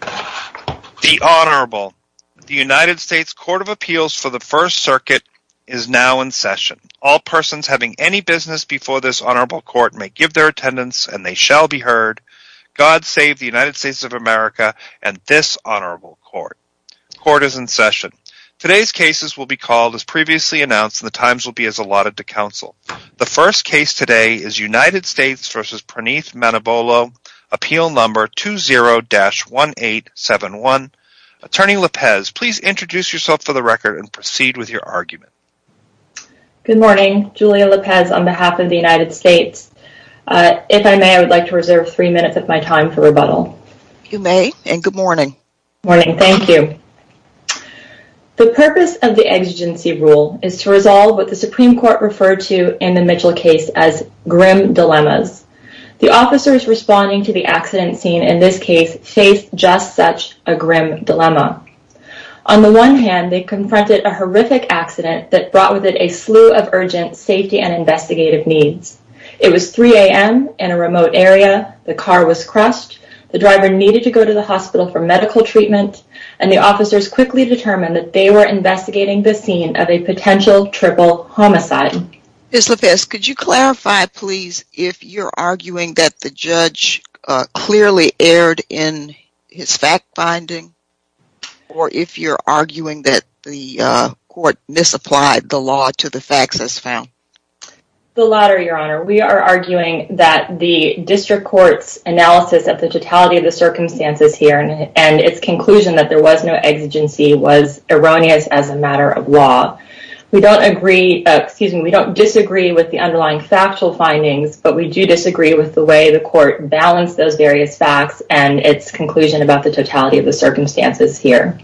The Honorable The United States Court of Appeals for the First Circuit is now in session. All persons having any business before this Honorable Court may give their attendance and they shall be heard. God save the United States of America and this Honorable Court. Court is in session. Today's cases will be called as previously announced and the times will be as allotted to counsel. The first case today is United States v. Praneeth Manubolu, Appeal No. 20-1871. Attorney Lopez, please introduce yourself for the record and proceed with your argument. Good morning, Julia Lopez on behalf of the United States. If I may, I would like to reserve three minutes of my time for rebuttal. You may, and good morning. Good morning, thank you. The purpose of the exigency rule is to resolve what the Supreme Court referred to in the Mitchell case as grim dilemmas. The officers responding to the accident scene in this case faced just such a grim dilemma. On the one hand, they confronted a horrific accident that brought with it a slew of urgent safety and investigative needs. It was 3 a.m. in a remote area, the car was crushed, the driver needed to go to the hospital for medical treatment, and the officers quickly determined that they were investigating the scene of a potential triple homicide. Ms. Lopez, could you clarify, please, if you're arguing that the judge clearly erred in his fact-finding or if you're arguing that the court misapplied the law to the facts as found? The latter, Your Honor. We are arguing that the district court's analysis of the totality of the circumstances here and its conclusion that there was no exigency was erroneous as a matter of law. We don't agree, excuse me, we don't disagree with the underlying factual findings, but we do disagree with the way the court balanced those various facts and its conclusion about the totality of the circumstances here.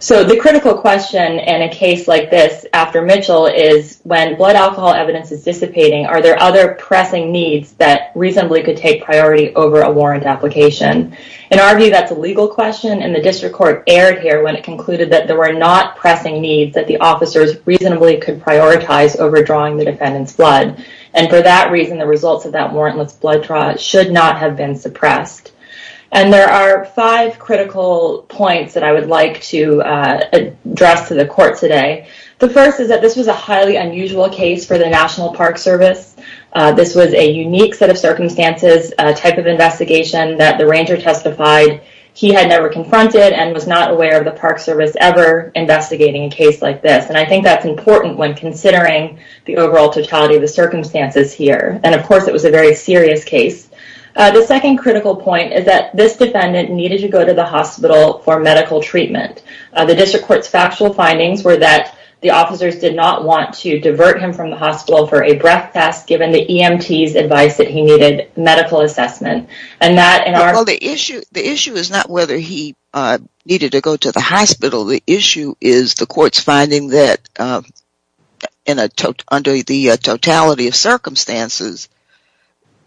So the critical question in a case like this after Mitchell is when blood alcohol evidence is dissipating, are there other pressing needs that reasonably could take priority over a warrant application? In our view, that's a legal question, and the district court erred here when it concluded that there were not pressing needs that the officers reasonably could prioritize over drawing the defendant's blood. And for that reason, the results of that warrantless blood draw should not have been suppressed. And there are five critical points that I would like to address to the court today. The first is that this was a highly unusual case for the National Park Service. This was a unique set of circumstances type of investigation that the ranger testified he had never confronted and was not aware of the Park Service ever investigating a case like this. And I think that's important when considering the overall totality of the circumstances here. And, of course, it was a very serious case. The second critical point is that this defendant needed to go to the hospital for medical treatment. The district court's factual findings were that the officers did not want to divert him from the hospital for a breath test given the EMT's advice that he needed medical assessment. Well, the issue is not whether he needed to go to the hospital. The issue is the court's finding that under the totality of circumstances,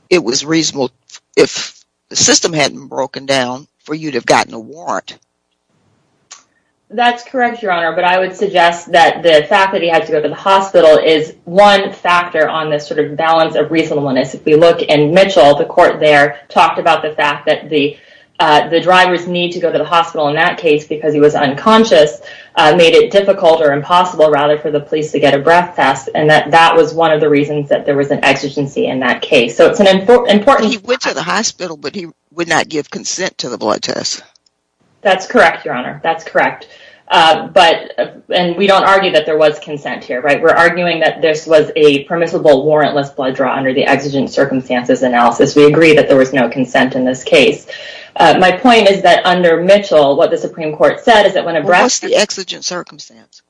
it was reasonable if the system hadn't broken down for you to have gotten a warrant. That's correct, Your Honor, but I would suggest that the fact that he had to go to the hospital is one factor on this sort of balance of reasonableness. If you look in Mitchell, the court there talked about the fact that the drivers need to go to the hospital in that case because he was unconscious made it difficult or impossible, rather, for the police to get a breath test, and that that was one of the reasons that there was an exigency in that case. So it's an important... He went to the hospital, but he would not give consent to the blood test. That's correct, Your Honor. That's correct. And we don't argue that there was consent here, right? We're arguing that this was a permissible warrantless blood draw under the exigent circumstances analysis. We agree that there was no consent in this case. My point is that under Mitchell, what the Supreme Court said is that when a breath test... What's the exigent circumstance?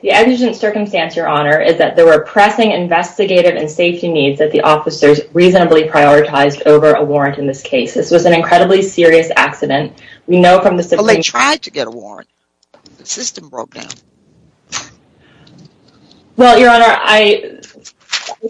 The exigent circumstance, Your Honor, is that there were pressing investigative and safety needs that the officers reasonably prioritized over a warrant in this case. This was an incredibly serious accident. We know from the Supreme Court... Well, they tried to get a warrant. The system broke down. Well, Your Honor, I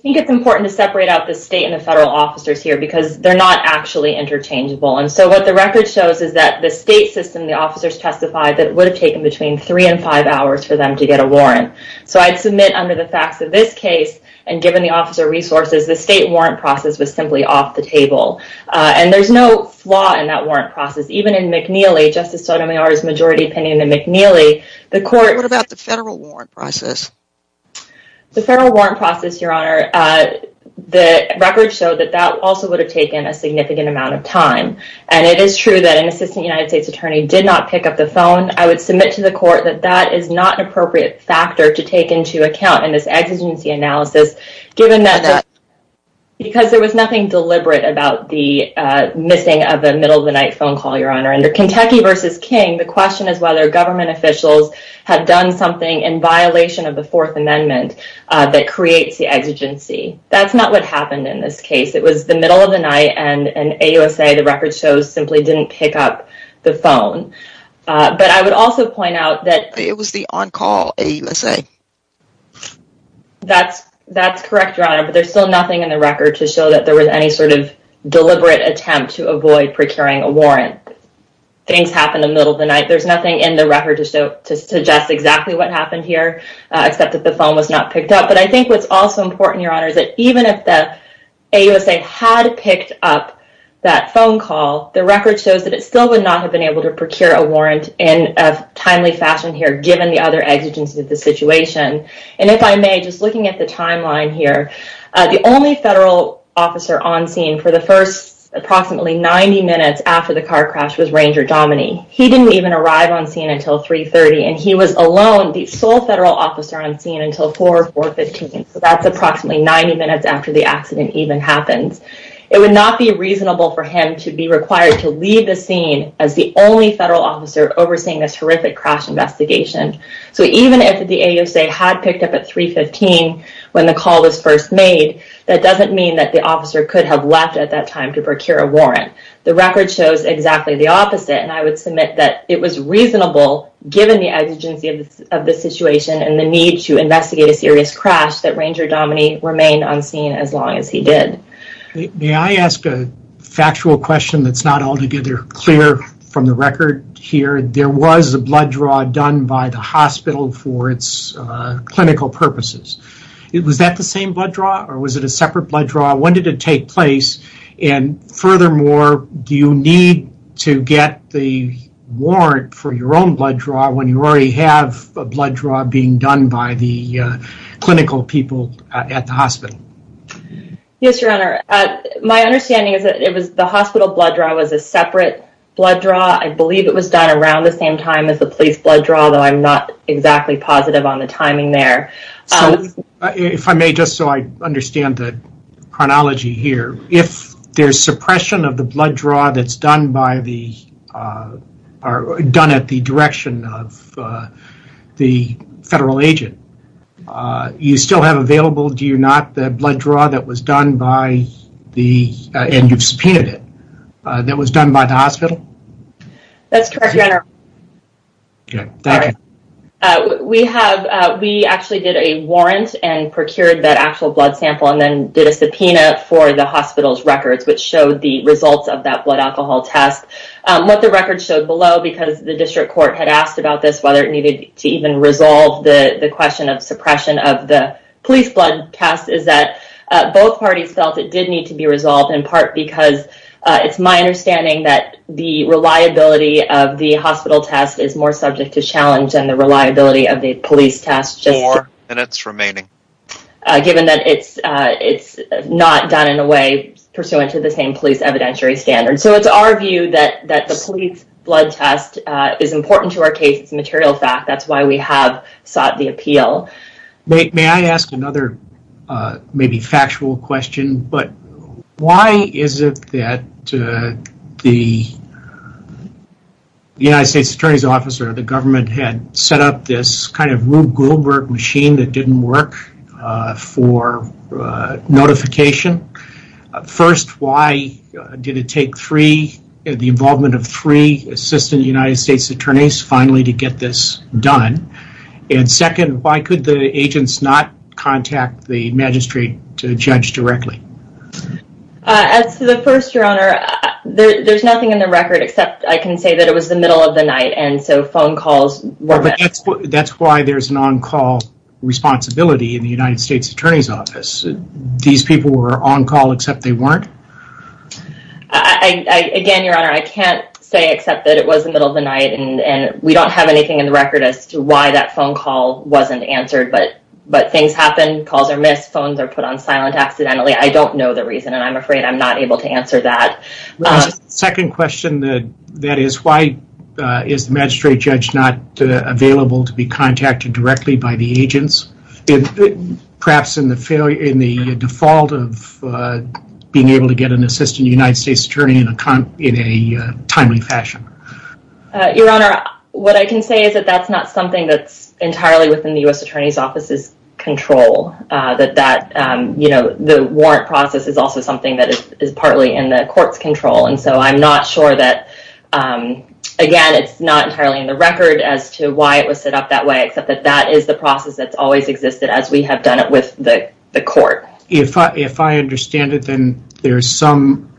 think it's important to separate out the state and the federal officers here because they're not actually interchangeable. And so what the record shows is that the state system, the officers testified, that it would have taken between 3 and 5 hours for them to get a warrant. So I'd submit under the facts of this case, and given the officer resources, the state warrant process was simply off the table. And there's no flaw in that warrant process. Even in McNeely, Justice Sotomayor's majority opinion in McNeely, the court... What about the federal warrant process? The federal warrant process, Your Honor, the record showed that that also would have taken a significant amount of time. And it is true that an assistant United States attorney did not pick up the phone. I would submit to the court that that is not an appropriate factor to take into account in this exigency analysis given that... Because there was nothing deliberate about the missing of a middle-of-the-night phone call, Your Honor. Under Kentucky v. King, the question is whether government officials have done something in violation of the Fourth Amendment that creates the exigency. That's not what happened in this case. It was the middle of the night, and AUSA, the record shows, simply didn't pick up the phone. But I would also point out that... It was the on-call AUSA. That's correct, Your Honor, but there's still nothing in the record to show that there was any sort of deliberate attempt to avoid procuring a warrant. Things happen in the middle of the night. There's nothing in the record to suggest exactly what happened here except that the phone was not picked up. But I think what's also important, Your Honor, is that even if the AUSA had picked up that phone call, the record shows that it still would not have been able to procure a warrant in a timely fashion here given the other exigencies of the situation. And if I may, just looking at the timeline here, the only federal officer on scene for the first approximately 90 minutes after the car crash was Ranger Dominey. He didn't even arrive on scene until 3.30, and he was alone, the sole federal officer on scene, until 4 or 4.15. So that's approximately 90 minutes after the accident even happens. It would not be reasonable for him to be required to leave the scene as the only federal officer overseeing this horrific crash investigation. So even if the AUSA had picked up at 3.15 when the call was first made, that doesn't mean that the officer could have left at that time to procure a warrant. The record shows exactly the opposite, and I would submit that it was reasonable given the exigencies of the situation and the need to investigate a serious crash that Ranger Dominey remained on scene as long as he did. May I ask a factual question that's not altogether clear from the record here? There was a blood draw done by the hospital for its clinical purposes. Was that the same blood draw, or was it a separate blood draw? When did it take place? And furthermore, do you need to get the warrant for your own blood draw when you already have a blood draw being done by the clinical people at the hospital? Yes, Your Honor. My understanding is that the hospital blood draw was a separate blood draw. I believe it was done around the same time as the police blood draw, though I'm not exactly positive on the timing there. If I may, just so I understand the chronology here, if there's suppression of the blood draw that's done at the direction of the federal agent, you still have available, do you not, the blood draw that was done by the hospital? That's correct, Your Honor. Okay. We actually did a warrant and procured that actual blood sample and then did a subpoena for the hospital's records, which showed the results of that blood alcohol test. What the record showed below, because the district court had asked about this, whether it needed to even resolve the question of suppression of the police blood test, is that both parties felt it did need to be resolved, in part because it's my understanding that the reliability of the hospital test is more subject to challenge than the reliability of the police test. Four minutes remaining. Given that it's not done in a way pursuant to the same police evidentiary standards. So it's our view that the police blood test is important to our case. It's a material fact. That's why we have sought the appeal. May I ask another maybe factual question? Why is it that the United States Attorney's Office or the government had set up this kind of Rube Goldberg machine that didn't work for notification? First, why did it take the involvement of three assistant United States attorneys finally to get this done? And second, why could the agents not contact the magistrate to judge directly? First, Your Honor, there's nothing in the record except I can say that it was the middle of the night and so phone calls were missed. That's why there's an on-call responsibility in the United States Attorney's Office. These people were on-call except they weren't? Again, Your Honor, I can't say except that it was the middle of the night and we don't have anything in the record as to why that phone call wasn't answered. But things happen. Calls are missed. Phones are put on silent accidentally. I don't know the reason, and I'm afraid I'm not able to answer that. Second question, that is, why is the magistrate judge not available to be contacted directly by the agents? Perhaps in the default of being able to get an assistant United States attorney in a timely fashion. Your Honor, what I can say is that that's not something that's entirely within the U.S. Attorney's Office's control. The warrant process is also something that is partly in the court's control, and so I'm not sure that, again, it's not entirely in the record as to why it was set up that way except that that is the process that's always existed as we have done it with the court. If I understand it, then there's some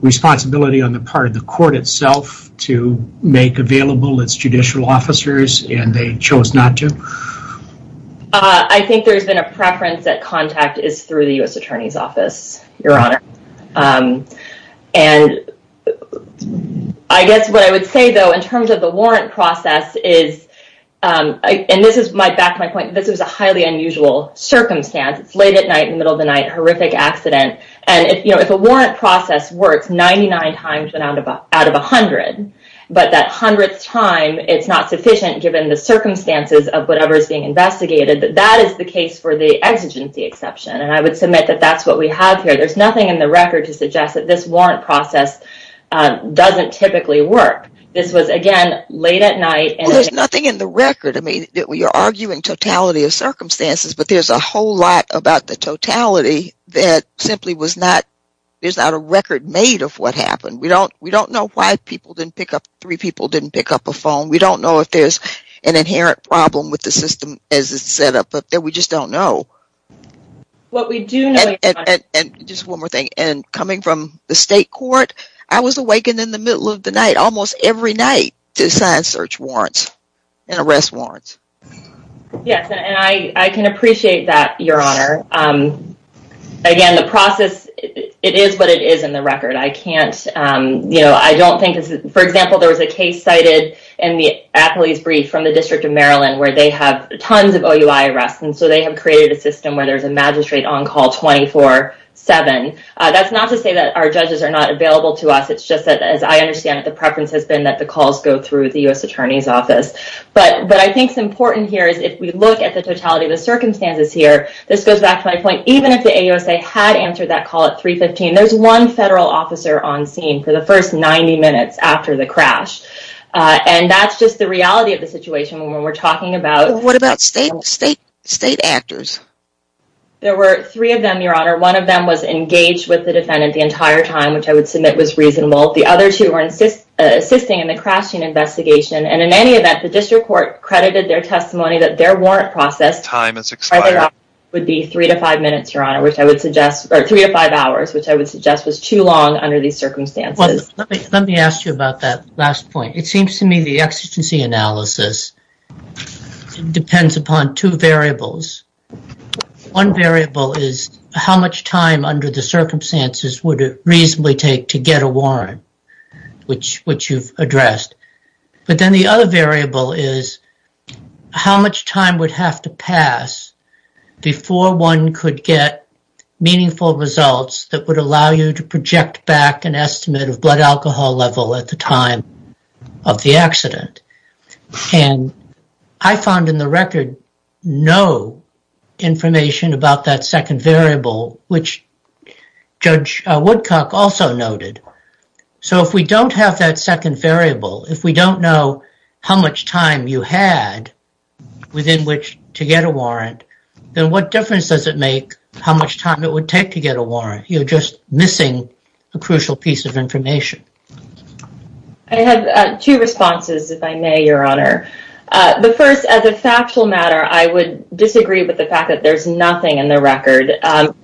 responsibility on the part of the court itself to make available its judicial officers, and they chose not to? I think there's been a preference that contact is through the U.S. Attorney's Office, Your Honor. And I guess what I would say, though, in terms of the warrant process is, and this is back to my point, this was a highly unusual circumstance. It's late at night, middle of the night, horrific accident. And if a warrant process works 99 times out of 100, but that hundredth time, it's not sufficient given the circumstances of whatever is being investigated, that that is the case for the exigency exception. And I would submit that that's what we have here. There's nothing in the record to suggest that this warrant process doesn't typically work. This was, again, late at night. Well, there's nothing in the record. I mean, you're arguing totality of circumstances, but there's a whole lot about the totality that simply was not – there's not a record made of what happened. We don't know why people didn't pick up – three people didn't pick up a phone. We don't know if there's an inherent problem with the system as it's set up. We just don't know. What we do know is – And just one more thing. And coming from the state court, I was awakened in the middle of the night, almost every night, to sign search warrants and arrest warrants. Yes, and I can appreciate that, Your Honor. Again, the process, it is what it is in the record. I can't – you know, I don't think – for example, there was a case cited in the athlete's brief from the District of Maryland where they have tons of OUI arrests, and so they have created a system where there's a magistrate on call 24-7. That's not to say that our judges are not available to us. It's just that, as I understand it, the preference has been that the calls go through the U.S. Attorney's Office. But what I think is important here is if we look at the totality of the circumstances here, this goes back to my point, even if the AUSA had answered that call at 315, there's one federal officer on scene for the first 90 minutes after the crash. And that's just the reality of the situation when we're talking about – What about state actors? There were three of them, Your Honor. One of them was engaged with the defendant the entire time, which I would submit was reasonable. The other two were assisting in the crashing investigation. And in any event, the district court credited their testimony that their warrant process Time has expired. would be three to five minutes, Your Honor, which I would suggest – or three to five hours, which I would suggest was too long under these circumstances. Let me ask you about that last point. It seems to me the exigency analysis depends upon two variables. One variable is how much time under the circumstances would it reasonably take to get a warrant, which you've addressed. But then the other variable is how much time would have to pass before one could get meaningful results that would allow you to project back an estimate of blood alcohol level at the time of the accident. And I found in the record no information about that second variable, which Judge Woodcock also noted. So if we don't have that second variable, if we don't know how much time you had within which to get a warrant, then what difference does it make how much time it would take to get a warrant? You're just missing a crucial piece of information. I have two responses, if I may, Your Honor. The first, as a factual matter, I would disagree with the fact that there's nothing in the record.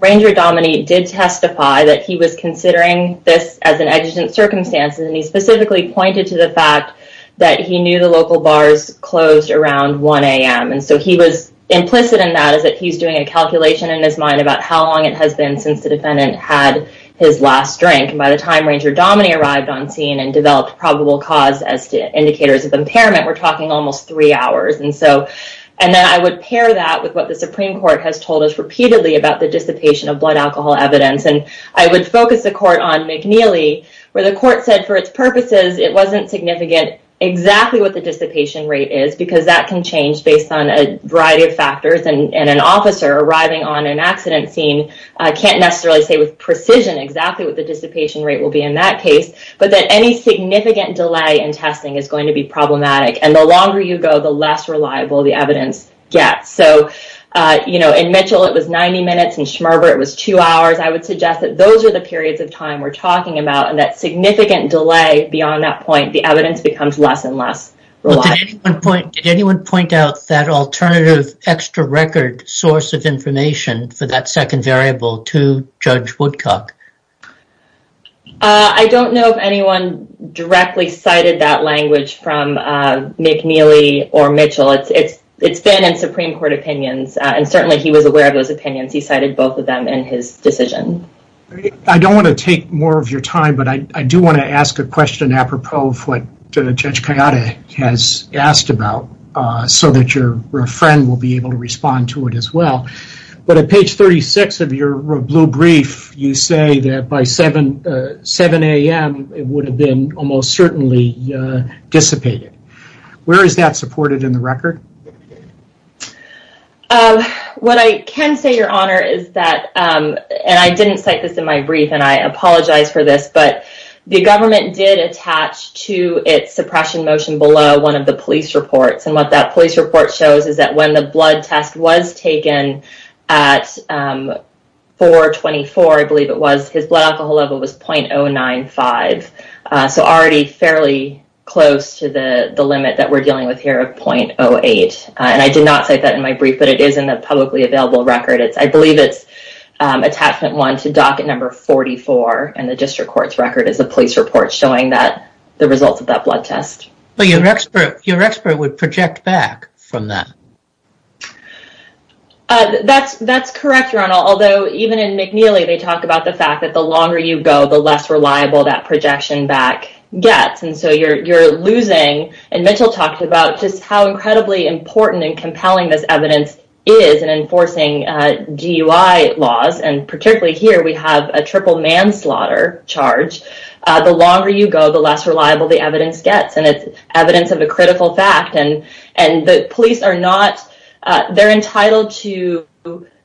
Ranger Dominey did testify that he was considering this as an exigent circumstance, and he specifically pointed to the fact that he knew the local bars closed around 1 a.m., and so he was implicit in that is that he's doing a calculation in his mind about how long it has been since the defendant had his last drink. And by the time Ranger Dominey arrived on scene and developed probable cause as to indicators of impairment, we're talking almost three hours. And then I would pair that with what the Supreme Court has told us repeatedly about the dissipation of blood alcohol evidence. And I would focus the court on McNeely, where the court said for its purposes it wasn't significant exactly what the dissipation rate is, because that can change based on a variety of factors. And an officer arriving on an accident scene can't necessarily say with precision exactly what the dissipation rate will be in that case, but that any significant delay in testing is going to be problematic. And the longer you go, the less reliable the evidence gets. So, you know, in Mitchell it was 90 minutes, in Schmerber it was 2 hours. I would suggest that those are the periods of time we're talking about, and that significant delay beyond that point, the evidence becomes less and less reliable. Did anyone point out that alternative extra record source of information for that second variable to Judge Woodcock? I don't know if anyone directly cited that language from McNeely or Mitchell. It's been in Supreme Court opinions, and certainly he was aware of those opinions. He cited both of them in his decision. I don't want to take more of your time, but I do want to ask a question apropos of what Judge Kayade has asked about, so that your friend will be able to respond to it as well. But at page 36 of your blue brief, you say that by 7 a.m. it would have been almost certainly dissipated. Where is that supported in the record? What I can say, Your Honor, is that, and I didn't cite this in my brief, and I apologize for this, but the government did attach to its suppression motion below one of the police reports, and what that police report shows is that when the blood test was taken at 424, I believe it was, his blood alcohol level was .095. So already fairly close to the limit that we're dealing with here of .08. And I did not cite that in my brief, but it is in the publicly available record. I believe it's attachment one to docket number 44, and the district court's record is a police report showing the results of that blood test. But your expert would project back from that. That's correct, Your Honor, although even in McNeely, they talk about the fact that the longer you go, the less reliable that projection back gets. And so you're losing, and Mitchell talked about just how incredibly important and compelling this evidence is in enforcing DUI laws, and particularly here we have a triple manslaughter charge. The longer you go, the less reliable the evidence gets, and it's evidence of a critical fact. And the police are not entitled to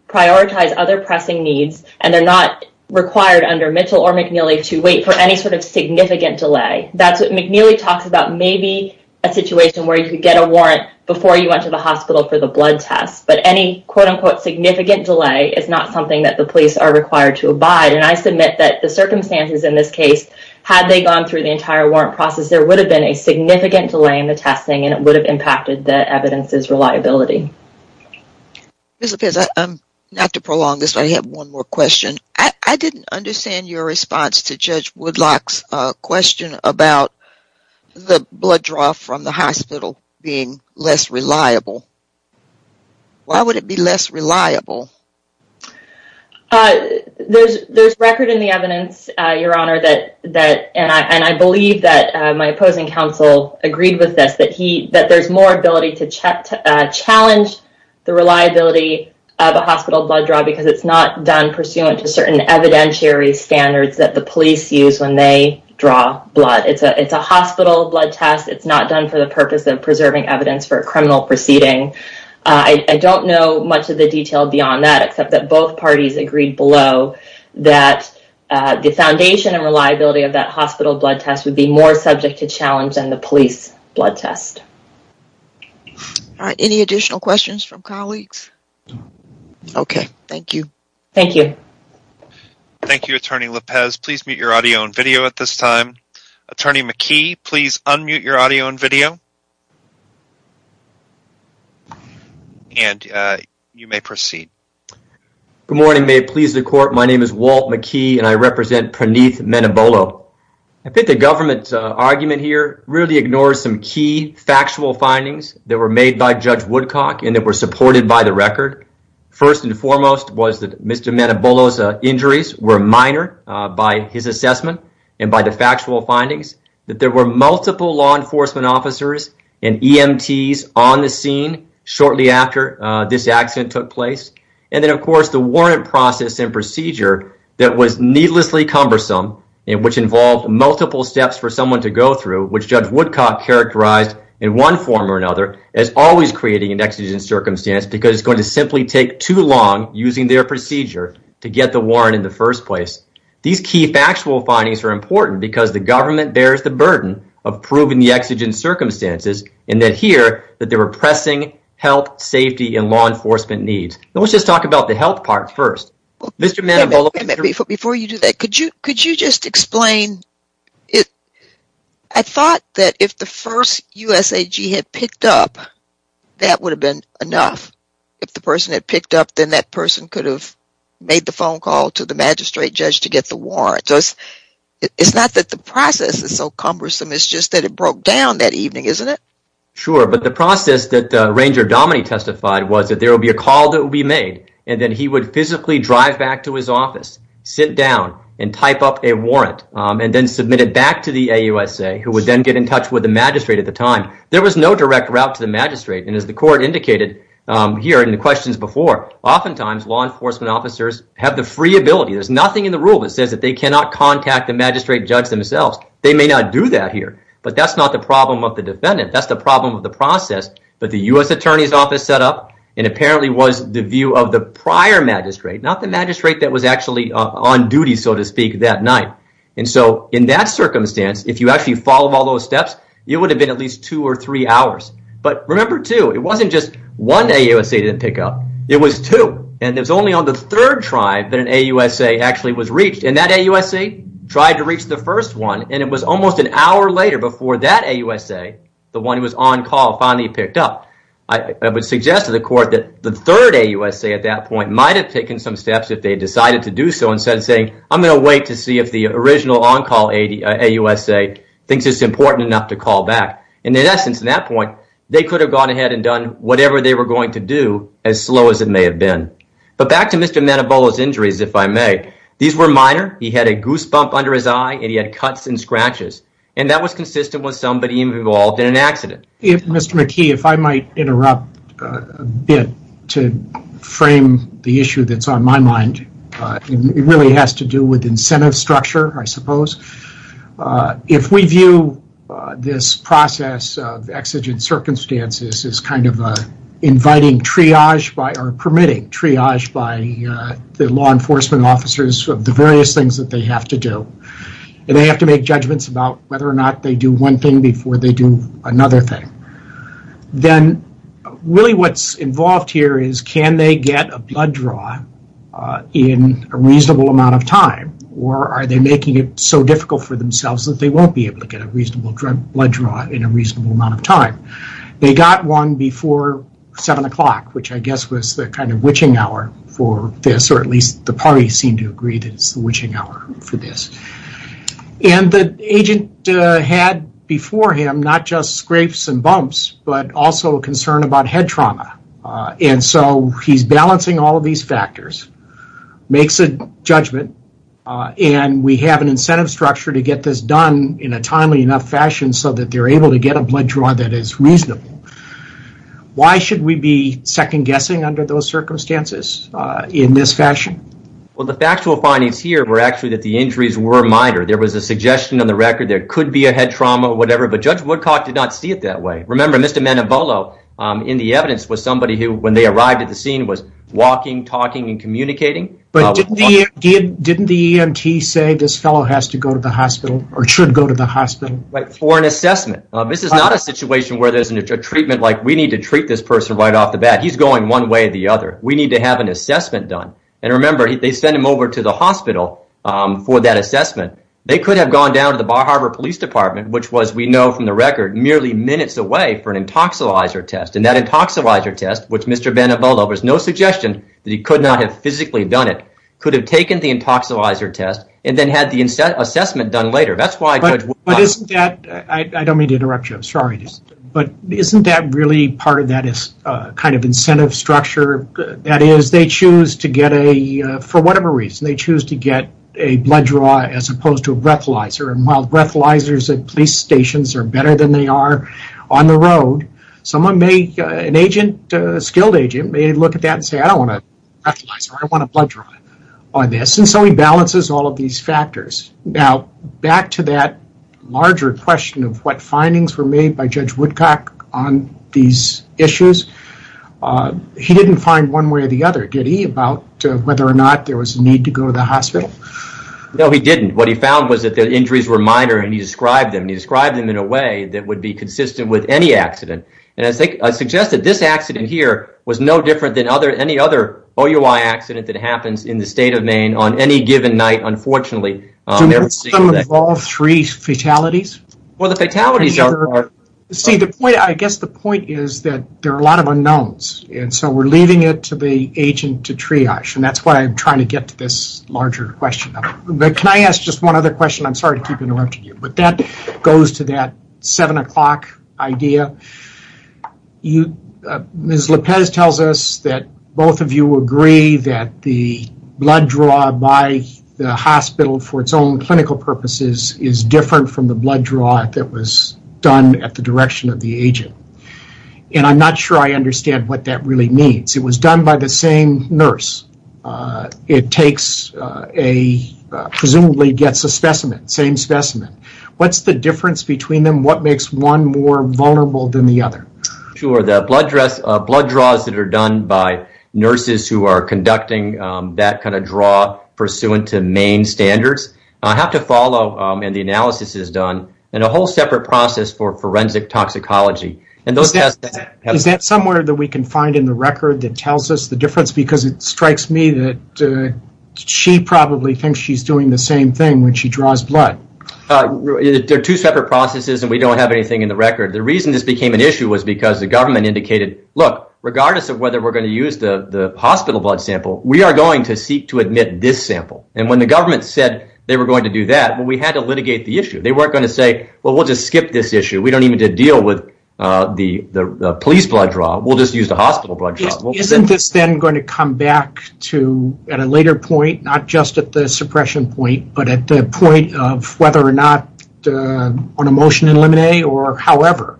prioritize other pressing needs, and they're not required under Mitchell or McNeely to wait for any sort of significant delay. McNeely talks about maybe a situation where you could get a warrant before you went to the hospital for the blood test, but any quote-unquote significant delay is not something that the police are required to abide. And I submit that the circumstances in this case, had they gone through the entire warrant process, there would have been a significant delay in the testing, and it would have impacted the evidence's reliability. Ms. Lopez, not to prolong this, but I have one more question. I didn't understand your response to Judge Woodlock's question about the blood draw from the hospital being less reliable. Why would it be less reliable? There's record in the evidence, Your Honor, and I believe that my opposing counsel agreed with this, that there's more ability to challenge the reliability of a hospital blood draw because it's not done pursuant to certain evidentiary standards that the police use when they draw blood. It's a hospital blood test. It's not done for the purpose of preserving evidence for a criminal proceeding. I don't know much of the detail beyond that, except that both parties agreed below that the foundation and reliability of that hospital blood test would be more subject to challenge than the police blood test. All right. Any additional questions from colleagues? Okay. Thank you. Thank you. Thank you, Attorney Lopez. Please mute your audio and video at this time. Attorney McKee, please unmute your audio and video, and you may proceed. Good morning. May it please the Court, my name is Walt McKee, and I represent Praneeth Menabolo. I think the government's argument here really ignores some key factual findings that were made by Judge Woodcock and that were supported by the record. First and foremost was that Mr. Menabolo's injuries were minor by his assessment and by the factual findings that there were multiple law enforcement officers and EMTs on the scene shortly after this accident took place. And then, of course, the warrant process and procedure that was needlessly cumbersome and which involved multiple steps for someone to go through, which Judge Woodcock characterized in one form or another as always creating an exigent circumstance because it's going to simply take too long using their procedure to get the warrant in the first place. These key factual findings are important because the government bears the burden of proving the exigent circumstances and that here that they were pressing health, safety, and law enforcement needs. Let's just talk about the health part first. Mr. Menabolo. Before you do that, could you just explain? I thought that if the first USAG had picked up, that would have been enough. If the person had picked up, then that person could have made the phone call to the magistrate judge to get the warrant. It's not that the process is so cumbersome. It's just that it broke down that evening, isn't it? Sure, but the process that Ranger Dominick testified was that there would be a call that would be made, and then he would physically drive back to his office, sit down, and type up a warrant, and then submit it back to the AUSA, who would then get in touch with the magistrate at the time. There was no direct route to the magistrate, and as the court indicated here in the questions before, oftentimes law enforcement officers have the free ability. There's nothing in the rule that says that they cannot contact the magistrate judge themselves. They may not do that here, but that's not the problem of the defendant. That's the problem of the process, but the U.S. Attorney's Office set up and apparently was the view of the prior magistrate, not the magistrate that was actually on duty, so to speak, that night. In that circumstance, if you actually followed all those steps, it would have been at least two or three hours. But remember, too, it wasn't just one AUSA didn't pick up. It was two, and it was only on the third try that an AUSA actually was reached, and that AUSA tried to reach the first one, and it was almost an hour later before that AUSA, the one who was on call, finally picked up. I would suggest to the court that the third AUSA at that point might have taken some steps if they had decided to do so instead of saying, I'm going to wait to see if the original on-call AUSA thinks it's important enough to call back. In essence, at that point, they could have gone ahead and done whatever they were going to do, as slow as it may have been. But back to Mr. Manabolo's injuries, if I may. These were minor. He had a goose bump under his eye, and he had cuts and scratches, and that was consistent with somebody even involved in an accident. Mr. McKee, if I might interrupt a bit to frame the issue that's on my mind, it really has to do with incentive structure, I suppose. If we view this process of exigent circumstances as kind of inviting triage or permitting triage by the law enforcement officers of the various things that they have to do, and they have to make judgments about whether or not they do one thing before they do another thing, then really what's involved here is can they get a blood draw in a reasonable amount of time, or are they making it so difficult for themselves that they won't be able to get a reasonable blood draw in a reasonable amount of time. They got one before 7 o'clock, which I guess was the kind of witching hour for this, or at least the parties seem to agree that it's the witching hour for this. The agent had before him not just scrapes and bumps, but also a concern about head trauma. He's balancing all of these factors, makes a judgment, and we have an incentive structure to get this done in a timely enough fashion so that they're able to get a blood draw that is reasonable. Why should we be second-guessing under those circumstances in this fashion? Well, the factual findings here were actually that the injuries were minor. There was a suggestion on the record there could be a head trauma or whatever, but Judge Woodcock did not see it that way. Remember, Mr. Manabolo in the evidence was somebody who, when they arrived at the scene, was walking, talking, and communicating. But didn't the EMT say this fellow has to go to the hospital or should go to the hospital? For an assessment. This is not a situation where there's a treatment like, we need to treat this person right off the bat. He's going one way or the other. We need to have an assessment done. And remember, they sent him over to the hospital for that assessment. They could have gone down to the Bar Harbor Police Department, which was, we know from the record, merely minutes away for an intoxilizer test. And that intoxilizer test, which Mr. Manabolo, there was no suggestion that he could not have physically done it, could have taken the intoxilizer test and then had the assessment done later. That's why Judge Woodcock— But isn't that—I don't mean to interrupt you. I'm sorry. But isn't that really part of that kind of incentive structure? That is, they choose to get a—for whatever reason, they choose to get a blood draw as opposed to a breathalyzer. And while breathalyzers at police stations are better than they are on the road, someone may, an agent, a skilled agent, may look at that and say, I don't want a breathalyzer. I want a blood draw on this. And so he balances all of these factors. Now, back to that larger question of what findings were made by Judge Woodcock on these issues, he didn't find one way or the other, did he, about whether or not there was a need to go to the hospital? No, he didn't. What he found was that the injuries were minor, and he described them, and he described them in a way that would be consistent with any accident. And I suggest that this accident here was no different than any other OUI accident that happens in the state of Maine on any given night, unfortunately. Do most of them involve three fatalities? Well, the fatalities are— See, I guess the point is that there are a lot of unknowns, and so we're leaving it to the agent to triage, and that's why I'm trying to get to this larger question. But can I ask just one other question? I'm sorry to keep interrupting you, but that goes to that 7 o'clock idea. Ms. Lopez tells us that both of you agree that the blood draw by the hospital for its own clinical purposes is different from the blood draw that was done at the direction of the agent, and I'm not sure I understand what that really means. It was done by the same nurse. It takes a—presumably gets a specimen, same specimen. What's the difference between them? What makes one more vulnerable than the other? Sure, the blood draws that are done by nurses who are conducting that kind of draw pursuant to Maine standards have to follow, and the analysis is done, in a whole separate process for forensic toxicology. Is that somewhere that we can find in the record that tells us the difference? Because it strikes me that she probably thinks she's doing the same thing when she draws blood. They're two separate processes, and we don't have anything in the record. The reason this became an issue was because the government indicated, look, regardless of whether we're going to use the hospital blood sample, we are going to seek to admit this sample. And when the government said they were going to do that, well, we had to litigate the issue. They weren't going to say, well, we'll just skip this issue. We don't even need to deal with the police blood draw. We'll just use the hospital blood draw. Isn't this then going to come back at a later point, not just at the suppression point, but at the point of whether or not on a motion in limine or however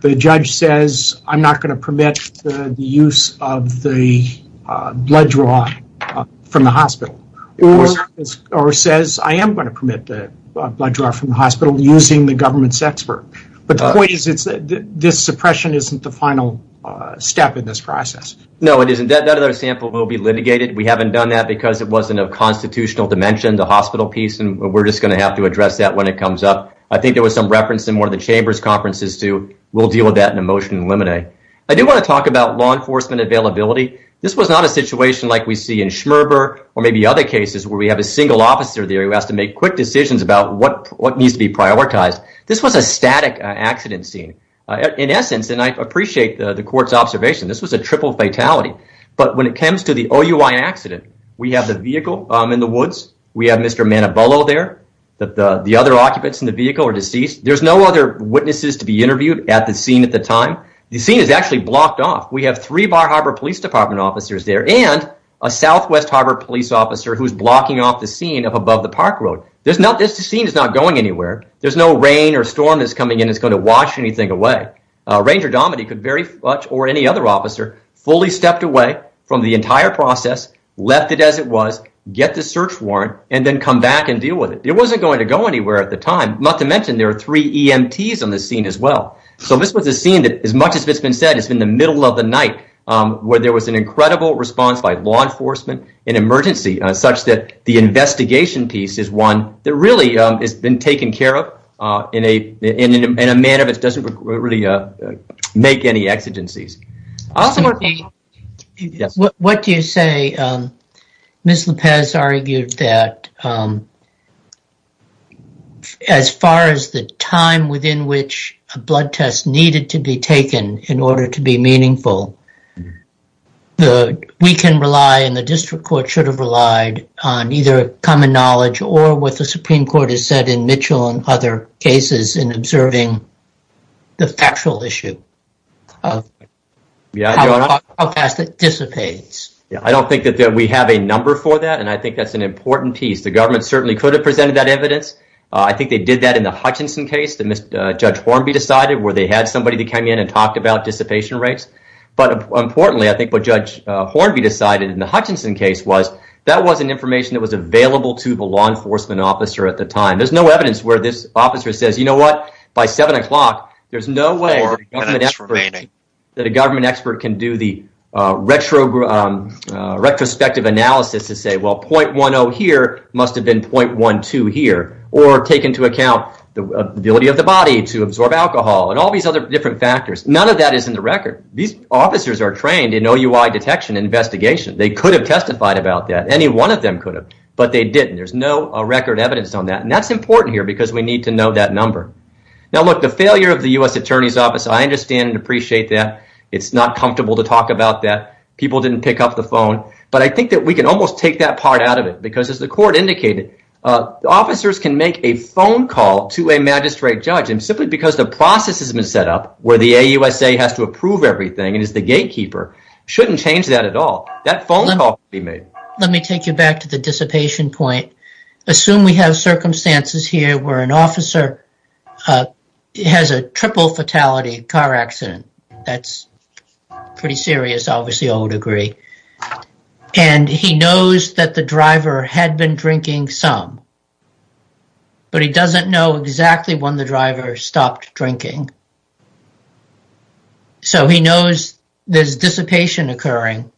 the judge says, I'm not going to permit the use of the blood draw from the hospital, or says, I am going to permit the blood draw from the hospital using the government's expert. But the point is this suppression isn't the final step in this process. No, it isn't. That other sample will be litigated. We haven't done that because it wasn't a constitutional dimension, the hospital piece, and we're just going to have to address that when it comes up. I think there was some reference in one of the Chambers conferences to we'll deal with that in a motion in limine. I do want to talk about law enforcement availability. This was not a situation like we see in Schmerber or maybe other cases where we have a single officer there who has to make quick decisions about what needs to be prioritized. This was a static accident scene. In essence, and I appreciate the court's observation, this was a triple fatality. But when it comes to the OUI accident, we have the vehicle in the woods. We have Mr. Manabolo there. The other occupants in the vehicle are deceased. There's no other witnesses to be interviewed at the scene at the time. The scene is actually blocked off. We have three Bar Harbor Police Department officers there and a Southwest Harbor police officer who's blocking off the scene up above the park road. This scene is not going anywhere. There's no rain or storm that's coming in that's going to wash anything away. Ranger Domedy could very much, or any other officer, fully stepped away from the entire process, left it as it was, get the search warrant, and then come back and deal with it. It wasn't going to go anywhere at the time, not to mention there are three EMTs on the scene as well. So this was a scene that, as much as it's been said, it's been the middle of the night where there was an incredible response by law enforcement, an emergency such that the investigation piece is one that really has been taken care of in a manner that doesn't really make any exigencies. What do you say? Ms. Lopez argued that as far as the time within which a blood test needed to be taken in order to be meaningful, we can rely, and the district court should have relied, on either common knowledge or what the Supreme Court has said in Mitchell and other cases in observing the factual issue of how fast it dissipates. I don't think that we have a number for that, and I think that's an important piece. The government certainly could have presented that evidence. I think they did that in the Hutchinson case that Judge Hornby decided, where they had somebody that came in and talked about dissipation rates. But importantly, I think what Judge Hornby decided in the Hutchinson case was that wasn't information that was available to the law enforcement officer at the time. There's no evidence where this officer says, you know what, by 7 o'clock, there's no way that a government expert can do the retrospective analysis to say, well, .10 here must have been .12 here, or take into account the ability of the body to absorb alcohol and all these other different factors. None of that is in the record. These officers are trained in OUI detection and investigation. They could have testified about that. Any one of them could have, but they didn't. There's no record evidence on that, and that's important here because we need to know that number. Now, look, the failure of the U.S. Attorney's Office, I understand and appreciate that. It's not comfortable to talk about that. People didn't pick up the phone. But I think that we can almost take that part out of it because, as the court indicated, officers can make a phone call to a magistrate judge, and simply because the process has been set up where the AUSA has to approve everything and is the gatekeeper, shouldn't change that at all. That phone call can be made. Let me take you back to the dissipation point. Assume we have circumstances here where an officer has a triple fatality car accident. That's pretty serious, obviously, I would agree. And he knows that the driver had been drinking some, but he doesn't know exactly when the driver stopped drinking. So he knows there's dissipation occurring.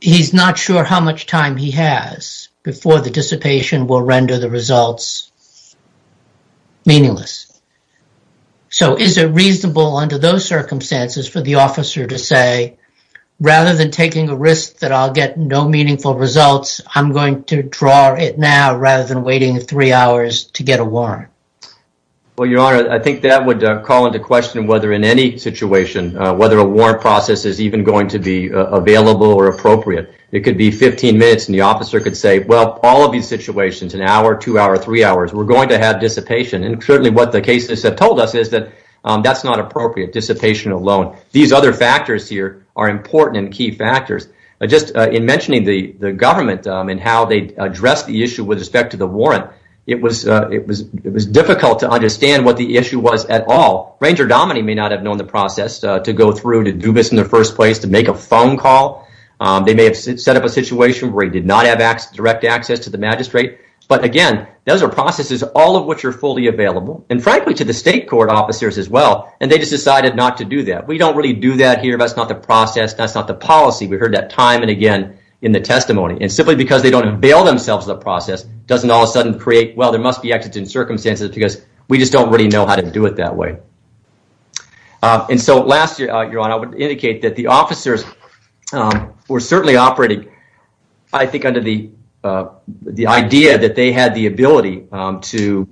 He's not sure how much time he has before the dissipation will render the results meaningless. So is it reasonable under those circumstances for the officer to say, rather than taking a risk that I'll get no meaningful results, I'm going to draw it now rather than waiting three hours to get a warrant? Well, Your Honor, I think that would call into question whether in any situation, whether a warrant process is even going to be available or appropriate. It could be 15 minutes, and the officer could say, well, all of these situations, an hour, two hours, three hours, we're going to have dissipation. And certainly what the cases have told us is that that's not appropriate, dissipation alone. These other factors here are important and key factors. Just in mentioning the government and how they addressed the issue with respect to the warrant, it was difficult to understand what the issue was at all. Ranger Dominey may not have known the process to go through to do this in the first place, to make a phone call. They may have set up a situation where he did not have direct access to the magistrate. But again, those are processes, all of which are fully available, and frankly, to the state court officers as well, and they just decided not to do that. We don't really do that here. That's not the process. That's not the policy. We heard that time and again in the testimony. And simply because they don't avail themselves of the process doesn't all of a sudden create, well, there must be exits in circumstances because we just don't really know how to do it that way. And so last, Your Honor, I would indicate that the officers were certainly operating, I think, under the idea that they had the ability to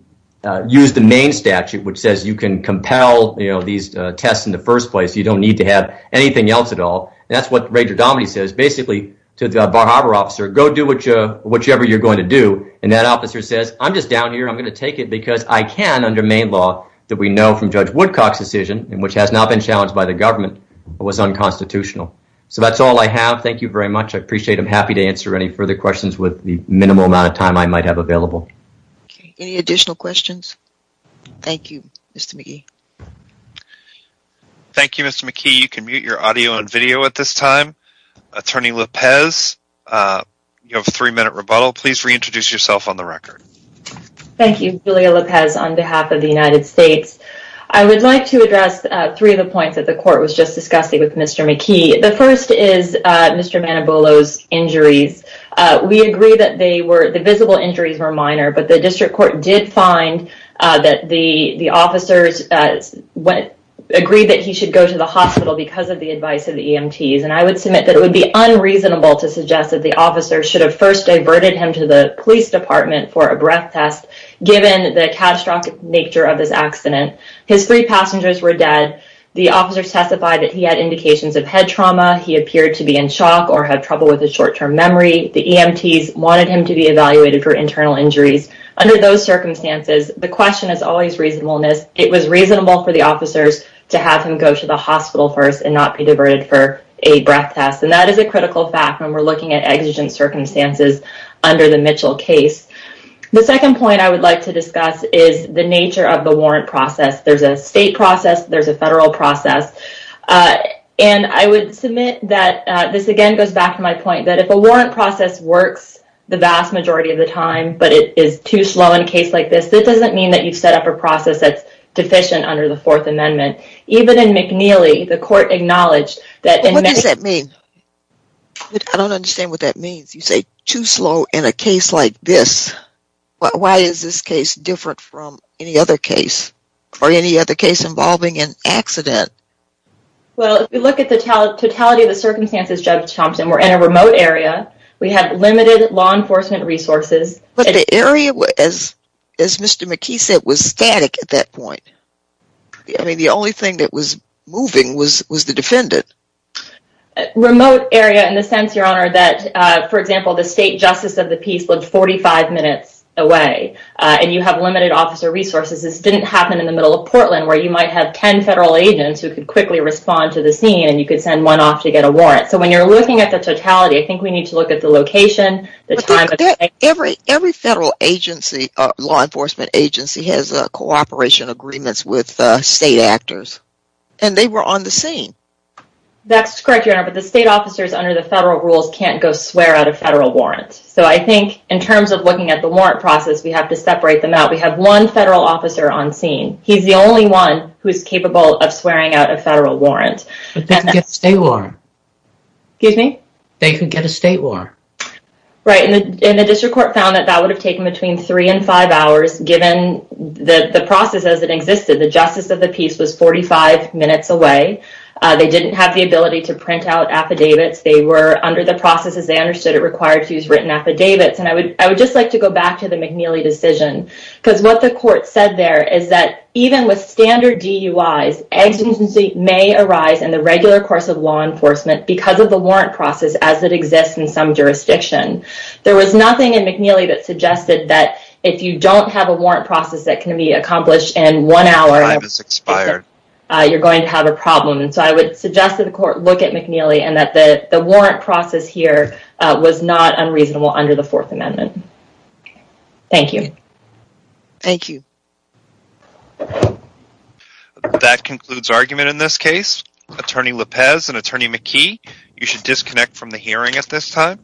use the main statute, which says you can compel these tests in the first place. You don't need to have anything else at all. And that's what Rager Dominey says basically to the Bar Harbor officer. Go do whichever you're going to do. And that officer says, I'm just down here. I'm going to take it because I can under main law that we know from Judge Woodcock's decision, which has not been challenged by the government, was unconstitutional. So that's all I have. Thank you very much. I appreciate it. I'm happy to answer any further questions with the minimal amount of time I might have available. Any additional questions? Thank you, Mr. McKee. Thank you, Mr. McKee. You can mute your audio and video at this time. Attorney Lopez, you have a three-minute rebuttal. Please reintroduce yourself on the record. Thank you. Julia Lopez on behalf of the United States. I would like to address three of the points that the court was just discussing with Mr. McKee. The first is Mr. Manabolo's injuries. We agree that the visible injuries were minor, but the district court did find that the officers agreed that he should go to the hospital because of the advice of the EMTs, and I would submit that it would be unreasonable to suggest that the officers should have first diverted him to the police department for a breath test, given the catastrophic nature of this accident. His three passengers were dead. The officers testified that he had indications of head trauma. He appeared to be in shock or have trouble with his short-term memory. The EMTs wanted him to be evaluated for internal injuries. Under those circumstances, the question is always reasonableness. It was reasonable for the officers to have him go to the hospital first and not be diverted for a breath test, and that is a critical fact when we're looking at exigent circumstances under the Mitchell case. The second point I would like to discuss is the nature of the warrant process. There's a state process. There's a federal process, and I would submit that this, again, goes back to my point that if a warrant process works the vast majority of the time but it is too slow in a case like this, it doesn't mean that you've set up a process that's deficient under the Fourth Amendment. Even in McNeely, the court acknowledged that... What does that mean? I don't understand what that means. You say too slow in a case like this. Why is this case different from any other case or any other case involving an accident? Well, if you look at the totality of the circumstances, Judge Thompson, we're in a remote area. We have limited law enforcement resources. But the area, as Mr. McKee said, was static at that point. I mean, the only thing that was moving was the defendant. Remote area in the sense, Your Honor, that, for example, the state justice of the peace lived 45 minutes away, and you have limited officer resources. This didn't happen in the middle of Portland where you might have 10 federal agents who could quickly respond to the scene, and you could send one off to get a warrant. So when you're looking at the totality, I think we need to look at the location, the time... Every federal agency, law enforcement agency, has cooperation agreements with state actors, and they were on the scene. That's correct, Your Honor, but the state officers under the federal rules can't go swear out a federal warrant. So I think in terms of looking at the warrant process, we have to separate them out. We have one federal officer on scene. He's the only one who's capable of swearing out a federal warrant. But they can get a state warrant. Excuse me? They can get a state warrant. Right, and the district court found that that would have taken between 3 and 5 hours given the process as it existed. The justice of the peace was 45 minutes away. They didn't have the ability to print out affidavits. They were under the process as they understood it required to use written affidavits. And I would just like to go back to the McNeely decision because what the court said there is that even with standard DUIs, exigency may arise in the regular course of law enforcement because of the warrant process as it exists in some jurisdiction. There was nothing in McNeely that suggested that if you don't have a warrant process that can be accomplished in one hour... Time has expired. ...you're going to have a problem. And so I would suggest that the court look at McNeely and that the warrant process here was not unreasonable under the Fourth Amendment. Thank you. Thank you. That concludes argument in this case. Attorney Lopez and Attorney McKee, you should disconnect from the hearing at this time.